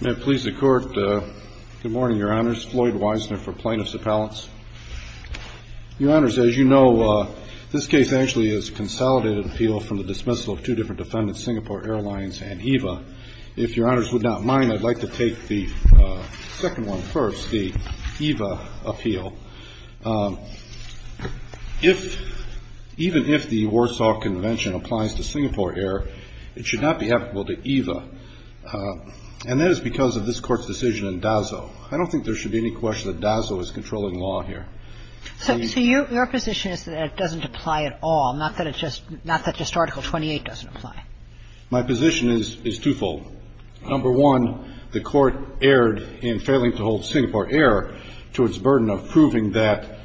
May it please the Court. Good morning, Your Honors. Floyd Weisner for Plaintiffs Appellants. Your Honors, as you know, this case actually is a consolidated appeal from the dismissal of two different defendants, Singapore Airlines and EVA. If Your Honors would not mind, I'd like to take the second one first, the EVA appeal. If, even if the Warsaw Convention applies to Singapore Air, it should not be applicable to EVA. And that is because of this Court's decision in DAZO. I don't think there should be any question that DAZO is controlling law here. So your position is that it doesn't apply at all, not that it just, not that just Article 28 doesn't apply. My position is, is twofold. Number one, the Court erred in failing to hold Singapore Air to its burden of proving that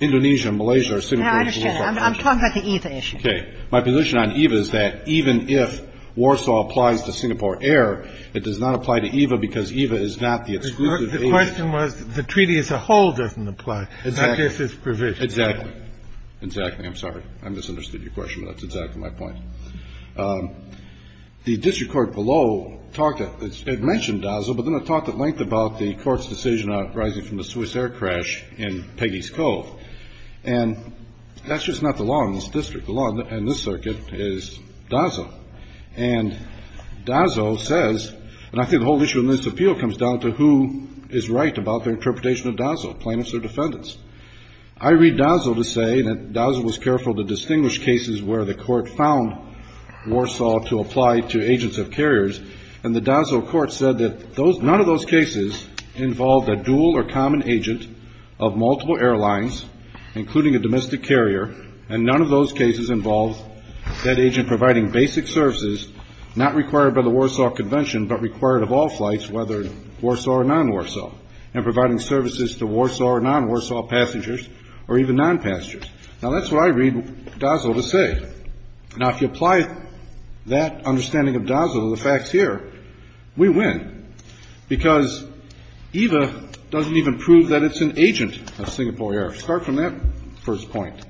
Indonesia and Malaysia are Singapore Airlines. Now, I understand that. I'm talking about the EVA issue. Okay. My position on EVA is that even if Warsaw applies to Singapore Air, it does not apply to EVA because EVA is not the exclusive AVA. The question was the treaty as a whole doesn't apply. Exactly. But this is provision. Exactly. Exactly. I'm sorry. I misunderstood your question, but that's exactly my point. The district court below talked, it mentioned DAZO, but then it talked at length about the Court's decision arising from the Swiss Air crash in Peggy's Cove. And that's just not the law in this district. The law in this circuit is DAZO. And DAZO says, and I think the whole issue in this appeal comes down to who is right about their interpretation of DAZO, plaintiffs or defendants. I read DAZO to say that DAZO was careful to distinguish cases where the court found Warsaw to apply to agents of carriers. And the DAZO court said that none of those cases involved a dual or common agent of multiple airlines, including a domestic carrier, and none of those cases involved that agent providing basic services not required by the Warsaw Convention, but required of all flights, whether Warsaw or non-Warsaw, and providing services to Warsaw or non-Warsaw passengers or even non-passengers. Now, that's what I read DAZO to say. Now, if you apply that understanding of DAZO to the facts here, we win, because EVA doesn't even prove that it's an agent of Singapore Air. Start from that first point.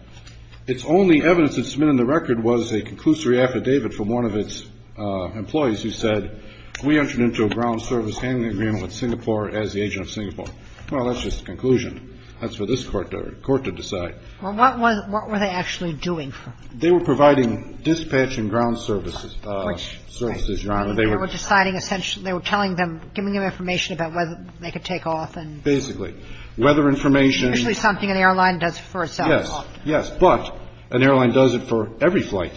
Its only evidence that's been in the record was a conclusory affidavit from one of its employees who said, we entered into a ground service handling agreement with Singapore as the agent of Singapore. Well, that's just a conclusion. That's for this Court to decide. Well, what were they actually doing? They were providing dispatch and ground services, Your Honor. They were deciding essentially, they were telling them, giving them information about whether they could take off and… Basically. Weather information. Usually something an airline does for itself. Yes, yes. But an airline does it for every flight,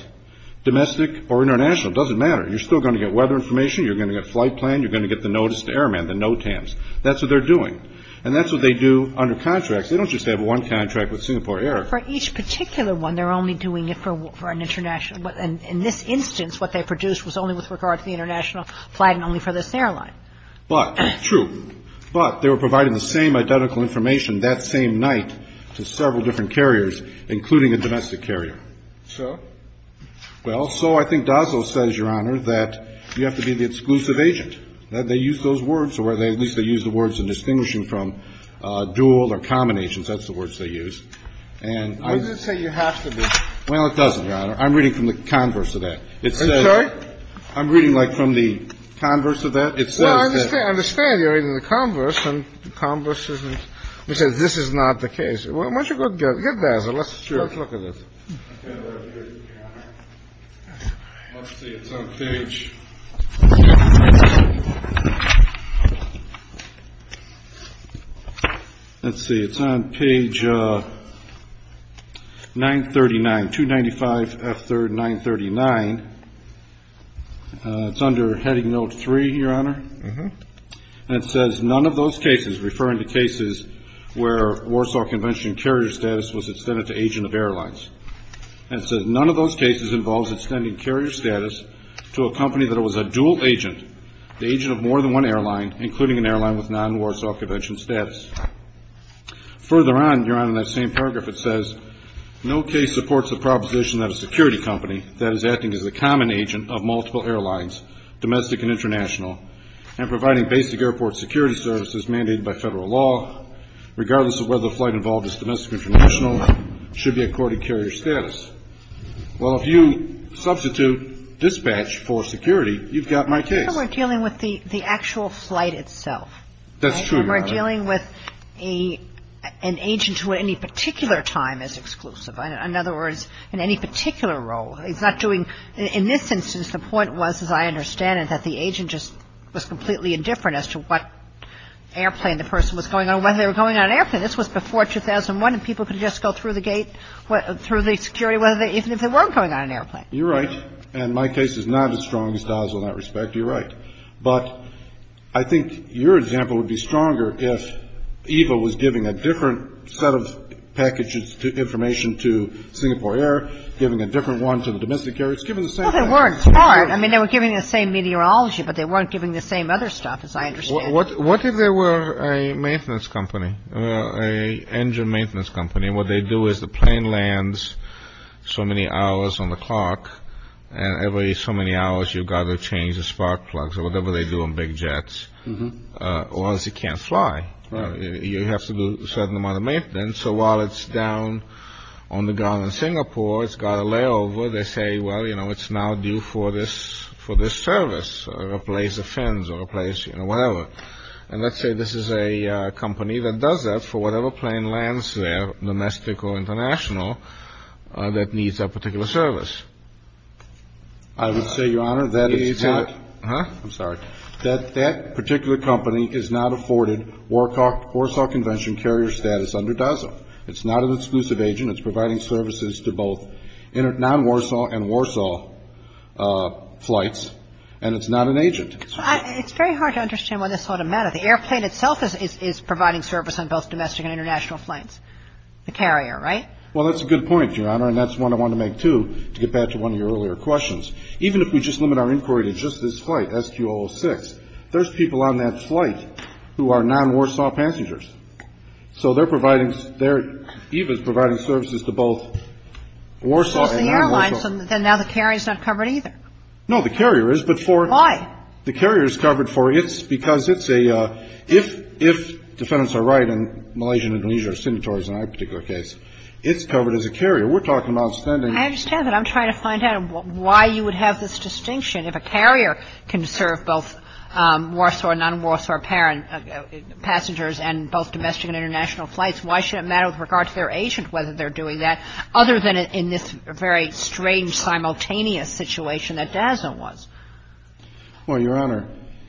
domestic or international. It doesn't matter. You're still going to get weather information. You're going to get flight plan. You're going to get the notice to Airman, the NOTAMs. That's what they're doing. And that's what they do under contracts. They don't just have one contract with Singapore Air. For each particular one, they're only doing it for an international. In this instance, what they produced was only with regard to the international flight and only for this airline. But, true. But they were providing the same identical information that same night to several different carriers, including a domestic carrier. So? Well, so I think Dazzle says, Your Honor, that you have to be the exclusive agent. They use those words, or at least they use the words in distinguishing from dual or common agents. That's the words they use. And I… Why does it say you have to be? Well, it doesn't, Your Honor. I'm reading from the converse of that. I'm sorry? I'm reading, like, from the converse of that. It says that… Well, I understand. I understand you're reading the converse. And the converse says this is not the case. Why don't you go get Dazzle. Sure. Let's look at this. I can't read it here, Your Honor. Let's see. It's on page… Let's see. It's on page 939, 295F3, 939. It's under heading note three, Your Honor. Uh-huh. And it says, None of those cases, referring to cases where Warsaw Convention carrier status was extended to agent of airlines. And it says, None of those cases involves extending carrier status to a company that was a dual agent, the agent of more than one airline, including an airline with non-Warsaw Convention status. Further on, Your Honor, in that same paragraph, it says, No case supports the proposition that a security company that is acting as a common agent of multiple airlines, domestic and international, and providing basic airport security services mandated by federal law, regardless of whether the flight involved is domestic or international, should be accorded carrier status. Well, if you substitute dispatch for security, you've got my case. We're dealing with the actual flight itself. That's true, Your Honor. We're dealing with an agent who at any particular time is exclusive. In other words, in any particular role. He's not doing — in this instance, the point was, as I understand it, that the agent just was completely indifferent as to what airplane the person was going on, whether they were going on an airplane. This was before 2001, and people could just go through the gate, through the security, even if they weren't going on an airplane. You're right. And my case is not as strong as Dahl's in that respect. You're right. But I think your example would be stronger if EVA was giving a different set of package information to Singapore Air, giving a different one to the domestic carriers, giving the same thing. Well, they weren't. I mean, they were giving the same meteorology, but they weren't giving the same other stuff, as I understand it. What if there were a maintenance company, an engine maintenance company, and what they do is the plane lands so many hours on the clock, and every so many hours you've got to change the spark plugs or whatever they do on big jets, or else it can't fly. You have to do a certain amount of maintenance. So while it's down on the ground in Singapore, it's got a layover. They say, well, you know, it's now due for this service or replace the fins or replace, you know, whatever. And let's say this is a company that does that for whatever plane lands there, domestic or international, that needs a particular service. I would say, Your Honor, that it's not. I'm sorry. That that particular company is not afforded Warsaw Convention carrier status under DASA. It's not an exclusive agent. It's providing services to both non-Warsaw and Warsaw flights, and it's not an agent. It's very hard to understand why this ought to matter. The airplane itself is providing service on both domestic and international flights, the carrier, right? Well, that's a good point, Your Honor, and that's one I wanted to make, too, to get back to one of your earlier questions. Even if we just limit our inquiry to just this flight, SQ-006, there's people on that flight who are non-Warsaw passengers. So they're providing, they're even providing services to both Warsaw and non-Warsaw. So it's the airlines, and now the carrier is not covered either. No, the carrier is, but for the carrier is covered for its, because it's a, if defendants are right, and Malaysian and Indonesia are signatories in our particular case, it's covered as a carrier. We're talking about sending. I understand that. I'm trying to find out why you would have this distinction if a carrier can serve both Warsaw and non-Warsaw passengers and both domestic and international flights. Why should it matter with regard to their agent whether they're doing that, other than in this very strange, simultaneous situation that DASA was? Well, Your Honor.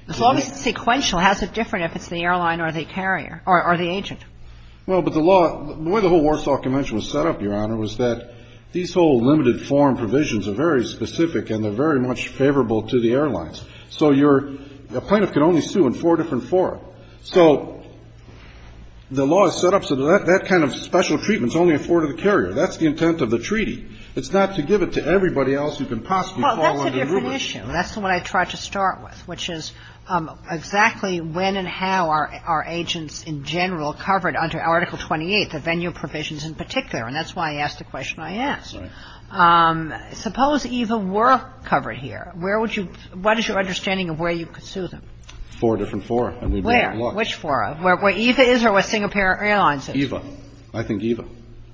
As long as it's sequential, how's it different if it's the airline or the carrier or the agent? Well, but the law, the way the whole Warsaw Convention was set up, Your Honor, was that these whole limited form provisions are very specific and they're very much favorable to the airlines. So your plaintiff can only sue in four different forms. So the law is set up so that that kind of special treatment is only afforded to the carrier. That's the intent of the treaty. It's not to give it to everybody else who can possibly fall under the rubric. Well, that's a different issue. That's what I tried to start with, which is exactly when and how are agents in general covered under Article 28, the venue provisions in particular. And that's why I asked the question I asked. Right. Suppose EVA were covered here. Where would you – what is your understanding of where you could sue them? Four different fora. Where? Which fora? Where EVA is or where Singapore Airlines is? EVA. I think EVA.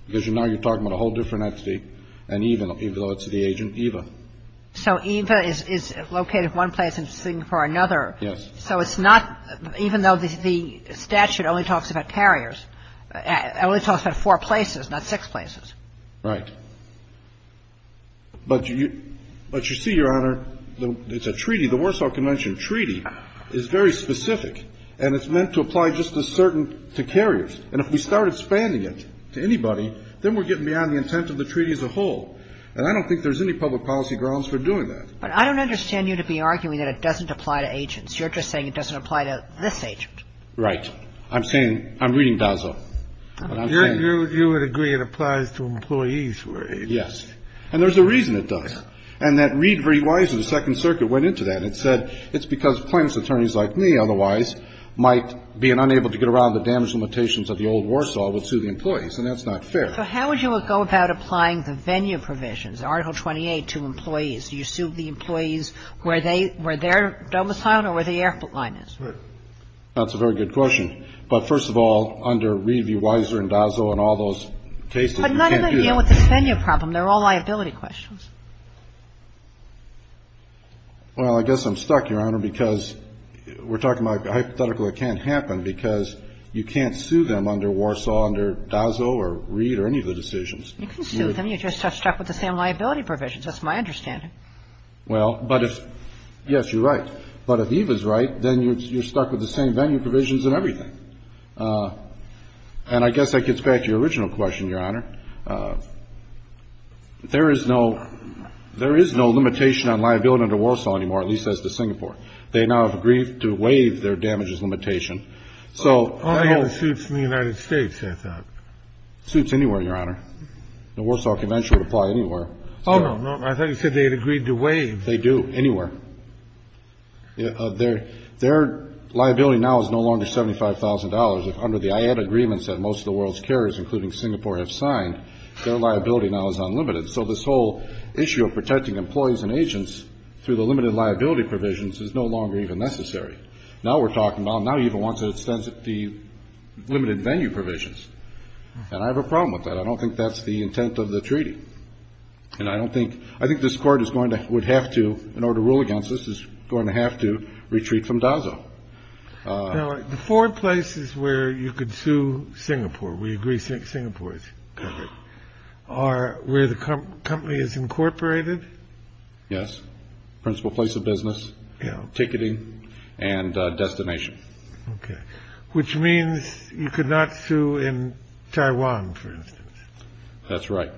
Because now you're talking about a whole different entity. And EVA, even though it's the agent, EVA. So EVA is located one place and Singapore another. Yes. So it's not – even though the statute only talks about carriers, it only talks about four places, not six places. Right. But you see, Your Honor, it's a treaty. The Warsaw Convention treaty is very specific. And it's meant to apply just to certain – to carriers. And if we start expanding it to anybody, then we're getting beyond the intent of the treaty as a whole. And I don't think there's any public policy grounds for doing that. But I don't understand you to be arguing that it doesn't apply to agents. You're just saying it doesn't apply to this agent. Right. I'm saying – I'm reading Dazzo. But I'm saying – You would agree it applies to employees, right? Yes. And there's a reason it does. And that read very wisely, the Second Circuit went into that, and it said it's because plaintiffs' attorneys like me, otherwise, might, being unable to get around the damage limitations of the old Warsaw, would sue the employees. And that's not fair. So how would you go about applying the venue provisions, Article 28, to employees? Do you sue the employees where they – where their domicile or where the airport line is? Right. That's a very good question. But first of all, under read v. Weiser and Dazzo and all those cases, you can't do that. But none of them deal with this venue problem. They're all liability questions. Well, I guess I'm stuck, Your Honor, because we're talking about a hypothetical that can't happen because you can't sue them under Warsaw, under Dazzo or read or any of the decisions. You can sue them. You're just stuck with the same liability provisions. That's my understanding. Well, but if – yes, you're right. But if Eve is right, then you're stuck with the same venue provisions and everything. And I guess that gets back to your original question, Your Honor. There is no – there is no limitation on liability under Warsaw anymore, at least as to Singapore. They now have agreed to waive their damages limitation. So – I have suits in the United States, I thought. Suits anywhere, Your Honor. The Warsaw Convention would apply anywhere. Oh, no, no. I thought you said they had agreed to waive. They do, anywhere. Their liability now is no longer $75,000. Under the IAD agreements that most of the world's carriers, including Singapore, have signed, their liability now is unlimited. So this whole issue of protecting employees and agents through the limited liability provisions is no longer even necessary. Now we're talking about now Eve wants to extend the limited venue provisions. And I have a problem with that. I don't think that's the intent of the treaty. And I don't think – I think this Court is going to – would have to, in order to rule against this, is going to have to retreat from DASO. Now, the four places where you could sue Singapore, we agree Singapore is covered, are where the company is incorporated. Yes. Principal place of business. Yeah. Ticketing and destination. Okay. Which means you could not sue in Taiwan, for instance. That's right.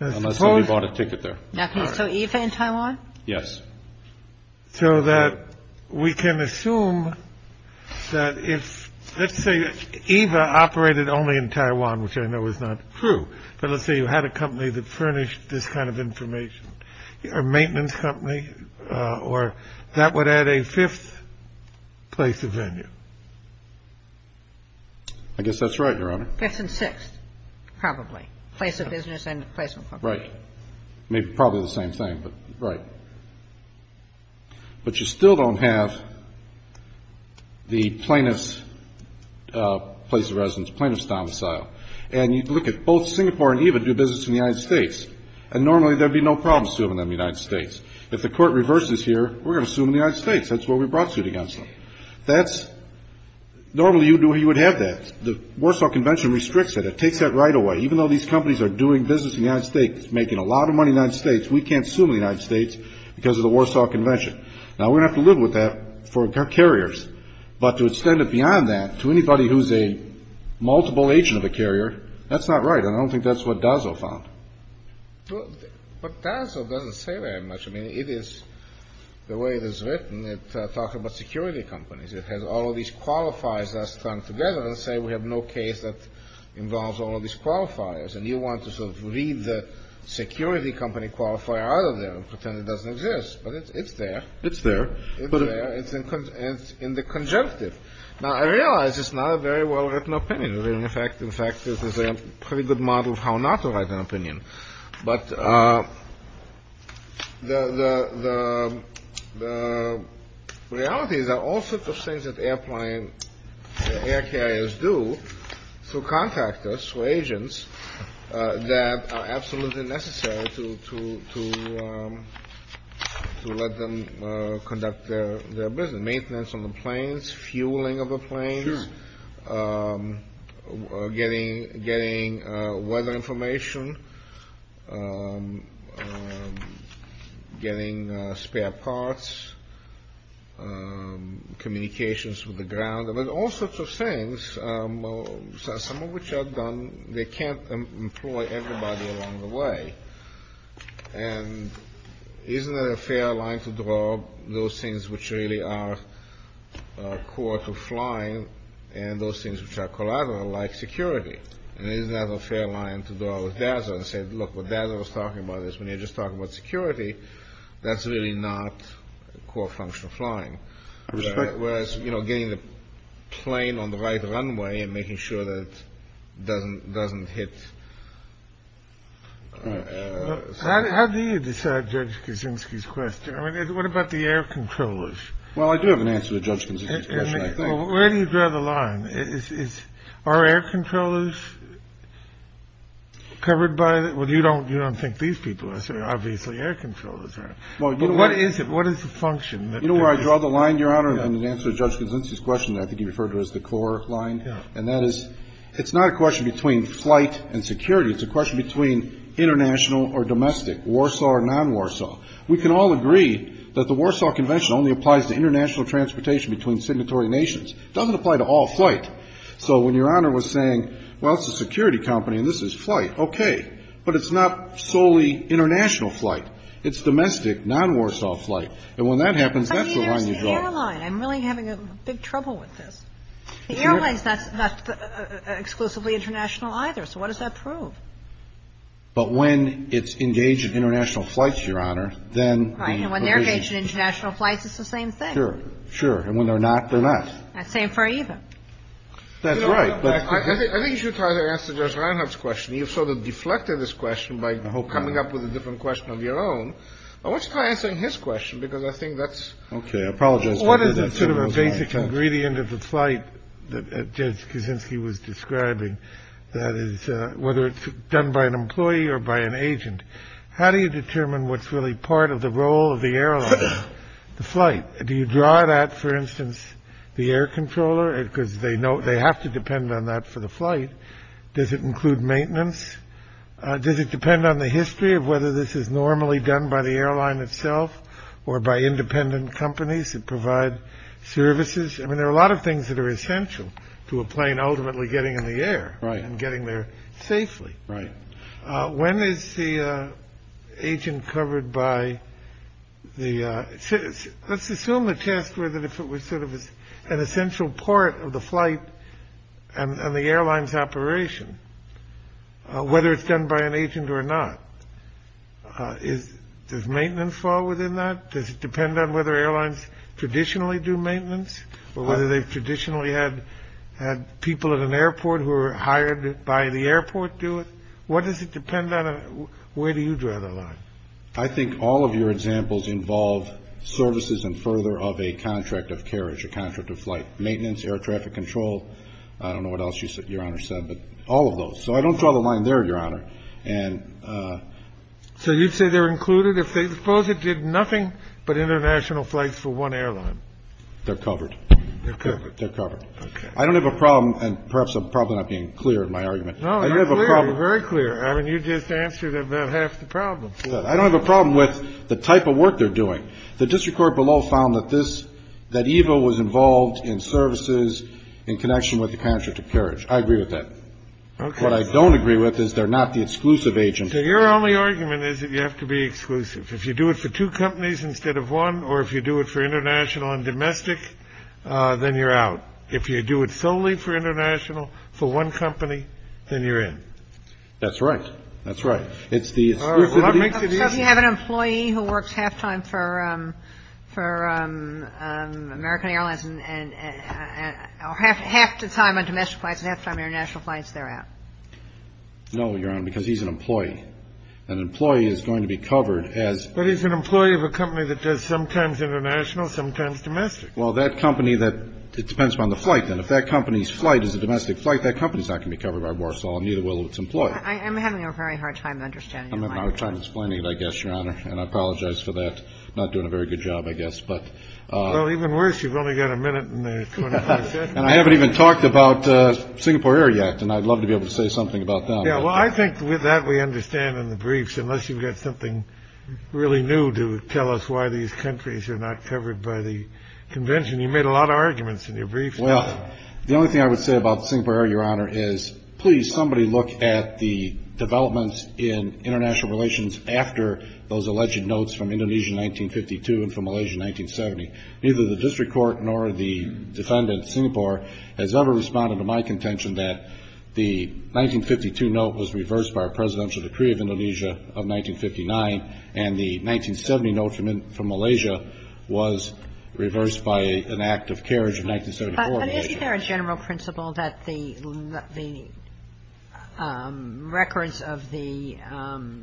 Unless somebody bought a ticket there. Now, can you sue Eva in Taiwan? Yes. So that we can assume that if – let's say Eva operated only in Taiwan, which I know is not true. But let's say you had a company that furnished this kind of information, a maintenance company, or that would add a fifth place of venue. I guess that's right, Your Honor. Fifth and sixth, probably. Place of business and placement company. Right. Maybe probably the same thing, but – right. But you still don't have the plaintiff's place of residence, plaintiff's domicile. And you look at both Singapore and Eva do business in the United States. And normally there would be no problem suing them in the United States. If the Court reverses here, we're going to sue them in the United States. That's where we brought suit against them. That's – normally you would have that. The Warsaw Convention restricts it. It takes that right away. Even though these companies are doing business in the United States, making a lot of money in the United States, we can't sue them in the United States because of the Warsaw Convention. Now, we're going to have to live with that for carriers. But to extend it beyond that to anybody who's a multiple agent of a carrier, that's not right. And I don't think that's what Dazzo found. But Dazzo doesn't say very much. I mean, it is – the way it is written, it talks about security companies. It has all of these qualifiers that are strung together and say we have no case that involves all of these qualifiers. And you want to sort of read the security company qualifier out of there and pretend it doesn't exist. But it's there. It's there. It's there. It's in the conjunctive. Now, I realize it's not a very well-written opinion. In fact, this is a pretty good model of how not to write an opinion. But the reality is that all sorts of things that air carriers do through contractors, through agents, that are absolutely necessary to let them conduct their business. Maintenance on the planes, fueling of the planes. Getting weather information. Getting spare parts. Communications with the ground. All sorts of things, some of which are done – they can't employ everybody along the way. And isn't it a fair line to draw those things which really are core to flying and those things which are collateral, like security? And isn't that a fair line to draw with DASA and say, look, what DASA was talking about is when you're just talking about security, that's really not a core function of flying. Whereas, you know, getting the plane on the right runway and making sure that it doesn't hit. How do you decide Judge Kaczynski's question? I mean, what about the air controllers? Well, I do have an answer to Judge Kaczynski's question, I think. Well, where do you draw the line? Are air controllers covered by – well, you don't think these people are, so obviously air controllers are. But what is it? What is the function? You know where I draw the line, Your Honor, in answer to Judge Kaczynski's question that I think you referred to as the core line? And that is it's not a question between flight and security. It's a question between international or domestic, Warsaw or non-Warsaw. We can all agree that the Warsaw Convention only applies to international transportation between signatory nations. It doesn't apply to all flight. So when Your Honor was saying, well, it's a security company and this is flight, okay. But it's not solely international flight. It's domestic, non-Warsaw flight. And when that happens, that's the line you draw. I mean, there's the airline. I'm really having a big trouble with this. The airlines, that's not exclusively international either. So what does that prove? But when it's engaged in international flights, Your Honor, then the provision – Right. And when they're engaged in international flights, it's the same thing. Sure. Sure. And when they're not, they're not. Same for either. That's right. I think you should try to answer Judge Reinhart's question. You've sort of deflected this question by coming up with a different question of your own. Why don't you try answering his question? Because I think that's – Okay. I apologize. What is sort of a basic ingredient of the flight that Judge Kuczynski was describing? That is, whether it's done by an employee or by an agent, how do you determine what's really part of the role of the airline? The flight. Do you draw that, for instance, the air controller? Because they have to depend on that for the flight. Does it include maintenance? Does it depend on the history of whether this is normally done by the airline itself or by independent companies that provide services? I mean, there are a lot of things that are essential to a plane ultimately getting in the air. Right. And getting there safely. Right. When is the agent covered by the – Let's assume the test were that if it was sort of an essential part of the flight and the airline's operation, whether it's done by an agent or not. Does maintenance fall within that? Does it depend on whether airlines traditionally do maintenance or whether they traditionally had people at an airport who were hired by the airport do it? What does it depend on? Where do you draw the line? I think all of your examples involve services and further of a contract of carriage, a contract of flight maintenance, air traffic control. I don't know what else Your Honor said, but all of those. So I don't draw the line there, Your Honor. So you'd say they're included if they – suppose it did nothing but international flights for one airline. They're covered. They're covered. They're covered. I don't have a problem, and perhaps I'm probably not being clear in my argument. No, you're clear. You're very clear. I mean, you just answered about half the problem. I don't have a problem with the type of work they're doing. The district court below found that this – that EVA was involved in services in connection with the contract of carriage. I agree with that. Okay. What I don't agree with is they're not the exclusive agent. Your only argument is that you have to be exclusive. If you do it for two companies instead of one or if you do it for international and domestic, then you're out. If you do it solely for international, for one company, then you're in. That's right. That's right. It's the exclusivity. Well, that makes it easy. So you have an employee who works half-time for American Airlines and – or half the time on domestic flights and half the time on international flights, they're out. No, Your Honor, because he's an employee. An employee is going to be covered as – But he's an employee of a company that does sometimes international, sometimes domestic. Well, that company that – it depends upon the flight, then. If that company's flight is a domestic flight, that company is not going to be covered by Warsaw, and neither will its employee. I'm having a very hard time understanding that. I'm having a hard time explaining it, I guess, Your Honor, and I apologize for that. I'm not doing a very good job, I guess. But – Well, even worse, you've only got a minute in the 25 seconds. And I haven't even talked about Singapore Air yet, and I'd love to be able to say something about that. Yeah, well, I think with that we understand in the briefs, unless you've got something really new to tell us why these countries are not covered by the convention. You made a lot of arguments in your briefs. Well, the only thing I would say about Singapore Air, Your Honor, is please, somebody look at the developments in international relations after those alleged notes from Indonesia in 1952 and from Malaysia in 1970. Neither the district court nor the defendant, Singapore, has ever responded to my contention that the 1952 note was reversed by our presidential decree of Indonesia of 1959, and the 1970 note from Malaysia was reversed by an act of carriage of 1974. But isn't there a general principle that the records of the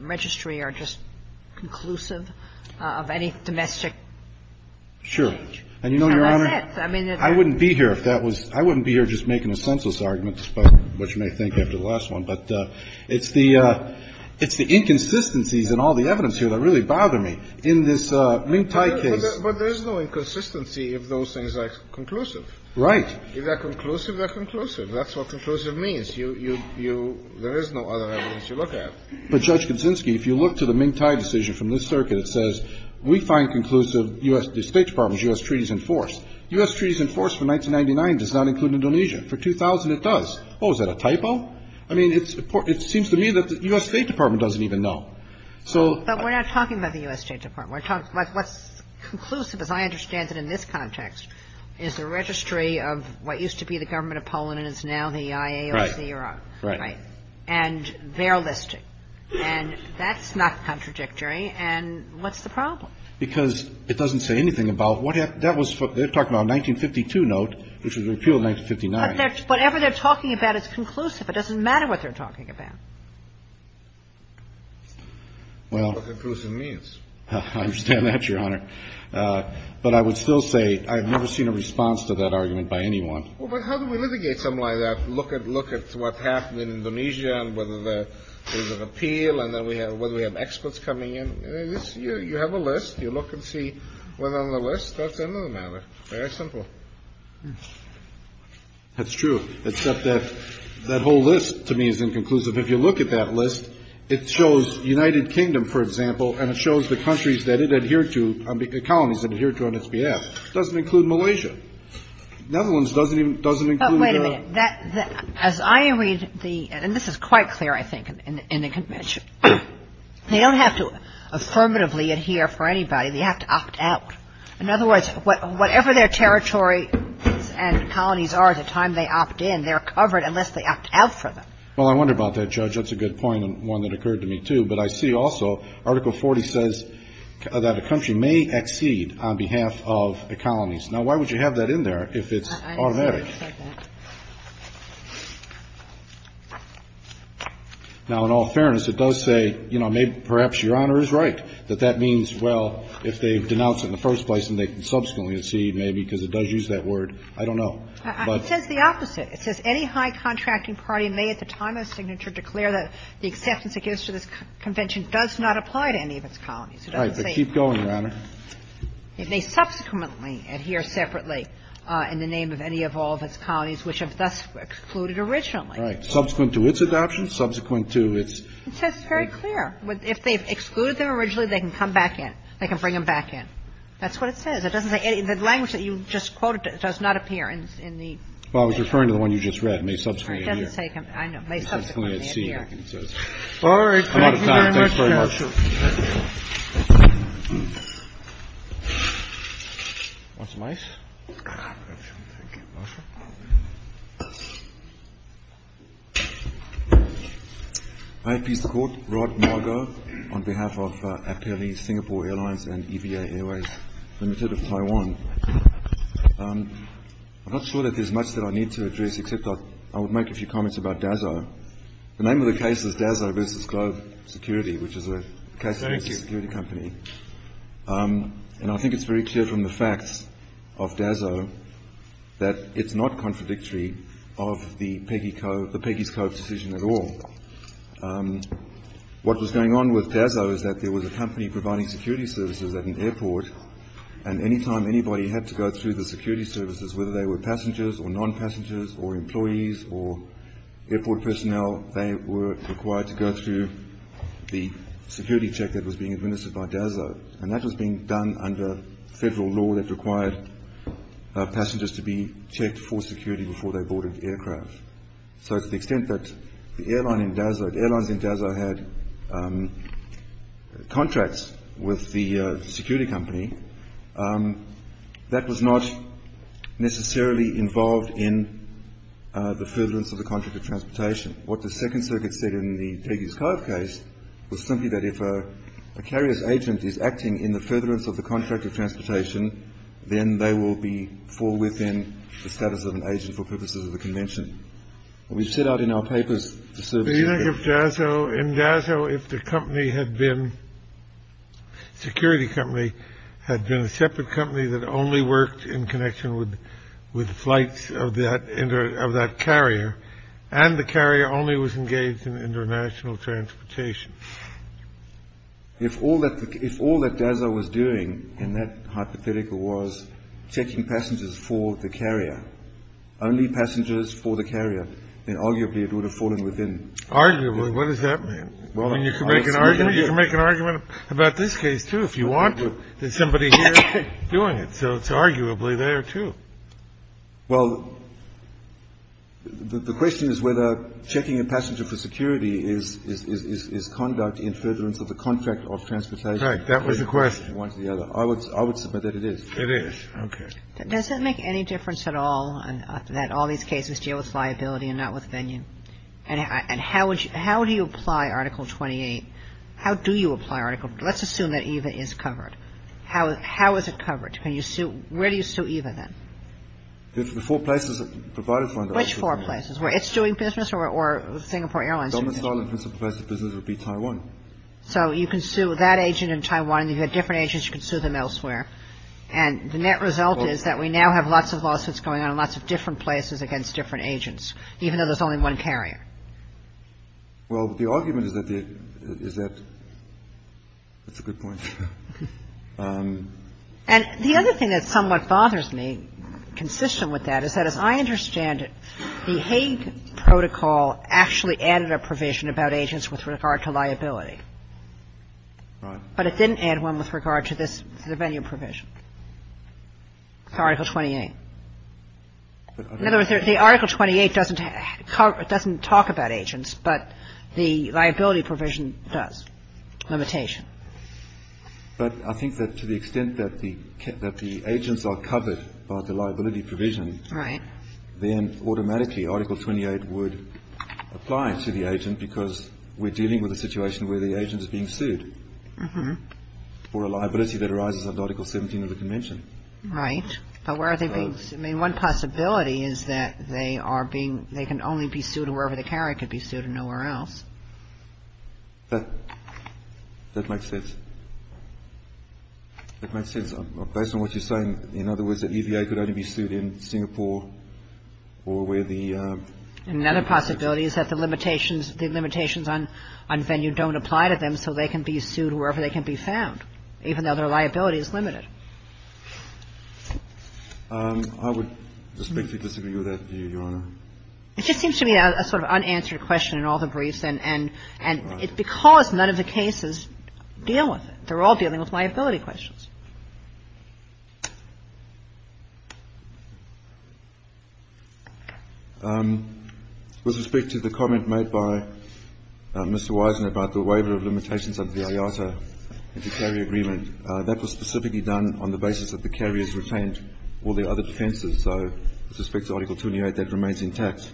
registry are just conclusive of any domestic? Sure. And you know, Your Honor, I wouldn't be here if that was – I wouldn't be here just making a senseless argument about what you may think after the last one. But it's the – it's the inconsistencies in all the evidence here that really bother me in this Ming Tai case. But there's no inconsistency if those things are conclusive. Right. If they're conclusive, they're conclusive. That's what conclusive means. You – you – there is no other evidence you look at. But, Judge Kuczynski, if you look to the Ming Tai decision from this circuit, it says we find conclusive U.S. – the State Department's U.S. treaties in force. U.S. treaties in force for 1999 does not include Indonesia. For 2000, it does. Oh, is that a typo? I mean, it's – it seems to me that the U.S. State Department doesn't even know. So – But we're not talking about the U.S. State Department. We're talking – what's conclusive, as I understand it in this context, is the registry of what used to be the government of Poland and is now the IAOC. Right. Right. And they're listing. And that's not contradictory. And what's the problem? Because it doesn't say anything about what – that was – they're talking about a 1952 note, which was repealed in 1959. But they're – whatever they're talking about is conclusive. It doesn't matter what they're talking about. Well – What conclusive means. I understand that, Your Honor. But I would still say I've never seen a response to that argument by anyone. Well, but how do we litigate something like that? Look at – look at what's happened in Indonesia and whether there's an appeal and whether we have experts coming in. You have a list. You look and see what's on the list. That's another matter. Very simple. That's true. Except that that whole list to me is inconclusive. If you look at that list, it shows United Kingdom, for example, and it shows the countries that it adhered to – colonies it adhered to on its behalf. It doesn't include Malaysia. Netherlands doesn't even – doesn't include – But wait a minute. That – as I read the – and this is quite clear, I think, in the Convention. They don't have to affirmatively adhere for anybody. They have to opt out. In other words, whatever their territory and colonies are at the time they opt in, they're covered unless they opt out for them. Well, I wonder about that, Judge. That's a good point and one that occurred to me, too. But I see also Article 40 says that a country may accede on behalf of the colonies. Now, why would you have that in there if it's automatic? I understand you said that. Now, in all fairness, it does say, you know, perhaps Your Honor is right, that that means, well, if they denounce it in the first place, then they can subsequently accede, maybe, because it does use that word. I don't know. But – It says the opposite. It says any high contracting party may at the time of signature declare that the acceptance it gives to this Convention does not apply to any of its colonies. It doesn't say – All right. But keep going, Your Honor. It may subsequently adhere separately in the name of any of all of its colonies, which have thus excluded originally. Right. Subsequent to its adoption, subsequent to its – It says it's very clear. If they've excluded them originally, they can come back in. They can bring them back in. That's what it says. It doesn't say any – the language that you just quoted does not appear in the – Well, I was referring to the one you just read, may subsequently adhere. It doesn't say – I know. May subsequently adhere. All right. Thank you very much, counsel. Thanks very much. Thank you. Marsha Mase. Thank you. Marsha. Hi, Mr. Court. Rod Margo on behalf of Apele Singapore Airlines and EVA Airways Limited of Taiwan. I'm not sure that there's much that I need to address, except I would make a few comments about DAZO. The name of the case is DAZO versus Globe Security, which is a case – Thank you. – for a security company. And I think it's very clear from the facts of DAZO that it's not contradictory of the Peggy's Cove decision at all. What was going on with DAZO is that there was a company providing security services at an airport, and any time anybody had to go through the security services, whether they were passengers or non-passengers or employees or airport personnel, they were required to go through the security check that was being administered by DAZO. And that was being done under federal law that required passengers to be checked for security before they boarded aircraft. So to the extent that the airline in DAZO – the airlines in DAZO had contracts with the security company, that was not necessarily involved in the furtherance of the contract of transportation. What the Second Circuit said in the Peggy's Cove case was simply that if a carrier's agent is acting in the furtherance of the contract of transportation, then they will be – fall within the status of an agent for purposes of the convention. And we've set out in our papers the services that – had been a separate company that only worked in connection with flights of that carrier, and the carrier only was engaged in international transportation. If all that DAZO was doing in that hypothetical was checking passengers for the carrier, only passengers for the carrier, then arguably it would have fallen within. Arguably? What does that mean? Well, you can make an argument about this case, too, if you want to. There's somebody here doing it. So it's arguably there, too. Well, the question is whether checking a passenger for security is conduct in furtherance of the contract of transportation. Right. That was the question. One or the other. I would submit that it is. It is. Okay. Does it make any difference at all that all these cases deal with liability and not with venue? And how would you – how do you apply Article 28? How do you apply Article – let's assume that EVA is covered. How is it covered? Can you sue – where do you sue EVA, then? The four places that provided funding. Which four places? Where it's doing business or Singapore Airlines is doing business? The only place that does business would be Taiwan. So you can sue that agent in Taiwan. If you had different agents, you could sue them elsewhere. And the net result is that we now have lots of lawsuits going on in lots of different places against different agents, even though there's only one carrier. Well, the argument is that the – is that – that's a good point. And the other thing that somewhat bothers me, consistent with that, is that as I understand it, the Hague Protocol actually added a provision about agents with regard to liability. Right. But it didn't add one with regard to this venue provision. It's Article 28. In other words, the Article 28 doesn't talk about agents, but the liability provision does. Limitation. But I think that to the extent that the agents are covered by the liability provision, then automatically Article 28 would apply to the agent because we're dealing with a situation where the agent is being sued for a liability that arises under Article 17 of the Convention. Right. But where are they being sued? I mean, one possibility is that they are being – they can only be sued wherever the carrier could be sued and nowhere else. That makes sense. That makes sense. Based on what you're saying, in other words, the EVA could only be sued in Singapore or where the – Another possibility is that the limitations – the limitations on venue don't apply to them, so they can be sued wherever they can be found, even though their liability is limited. I would respectfully disagree with that view, Your Honor. It just seems to be a sort of unanswered question in all the briefs, and it's because none of the cases deal with it. They're all dealing with liability questions. With respect to the comment made by Mr. Wysen about the waiver of limitations and the carrier agreement, that was specifically done on the basis that the carriers retained all their other defences, so with respect to Article 28, that remains intact.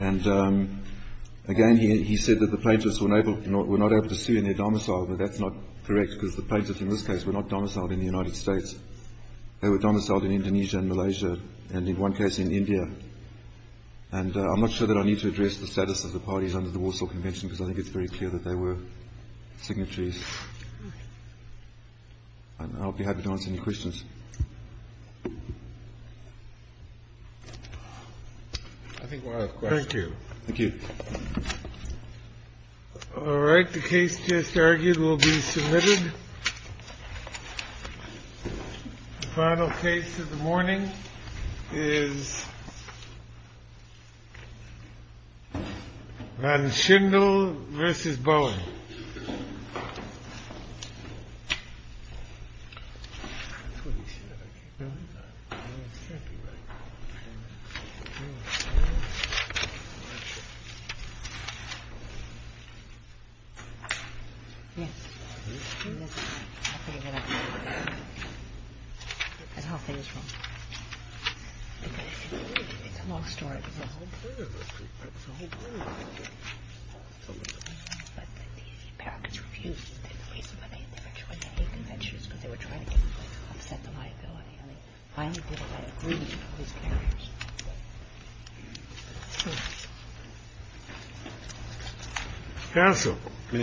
And again, he said that the plaintiffs were not able to sue in their domicile, but that's not correct because the plaintiffs in this case were not domiciled in the United States. They were domiciled in Indonesia and Malaysia, and in one case in India. And I'm not sure that I need to address the status of the parties under the Warsaw Convention because I think it's very clear that they were signatories. I'll be happy to answer any questions. Thank you. Thank you. All right. The case just argued will be submitted. The final case of the morning is Van Schindel v. Boeing. That's how things roll. It's a long story. It was a whole period of it. It was a whole period of it. But the Americans refused. They didn't raise the money. They were trying to offset the liability. And they finally didn't agree with the carriers. That's true. That's true.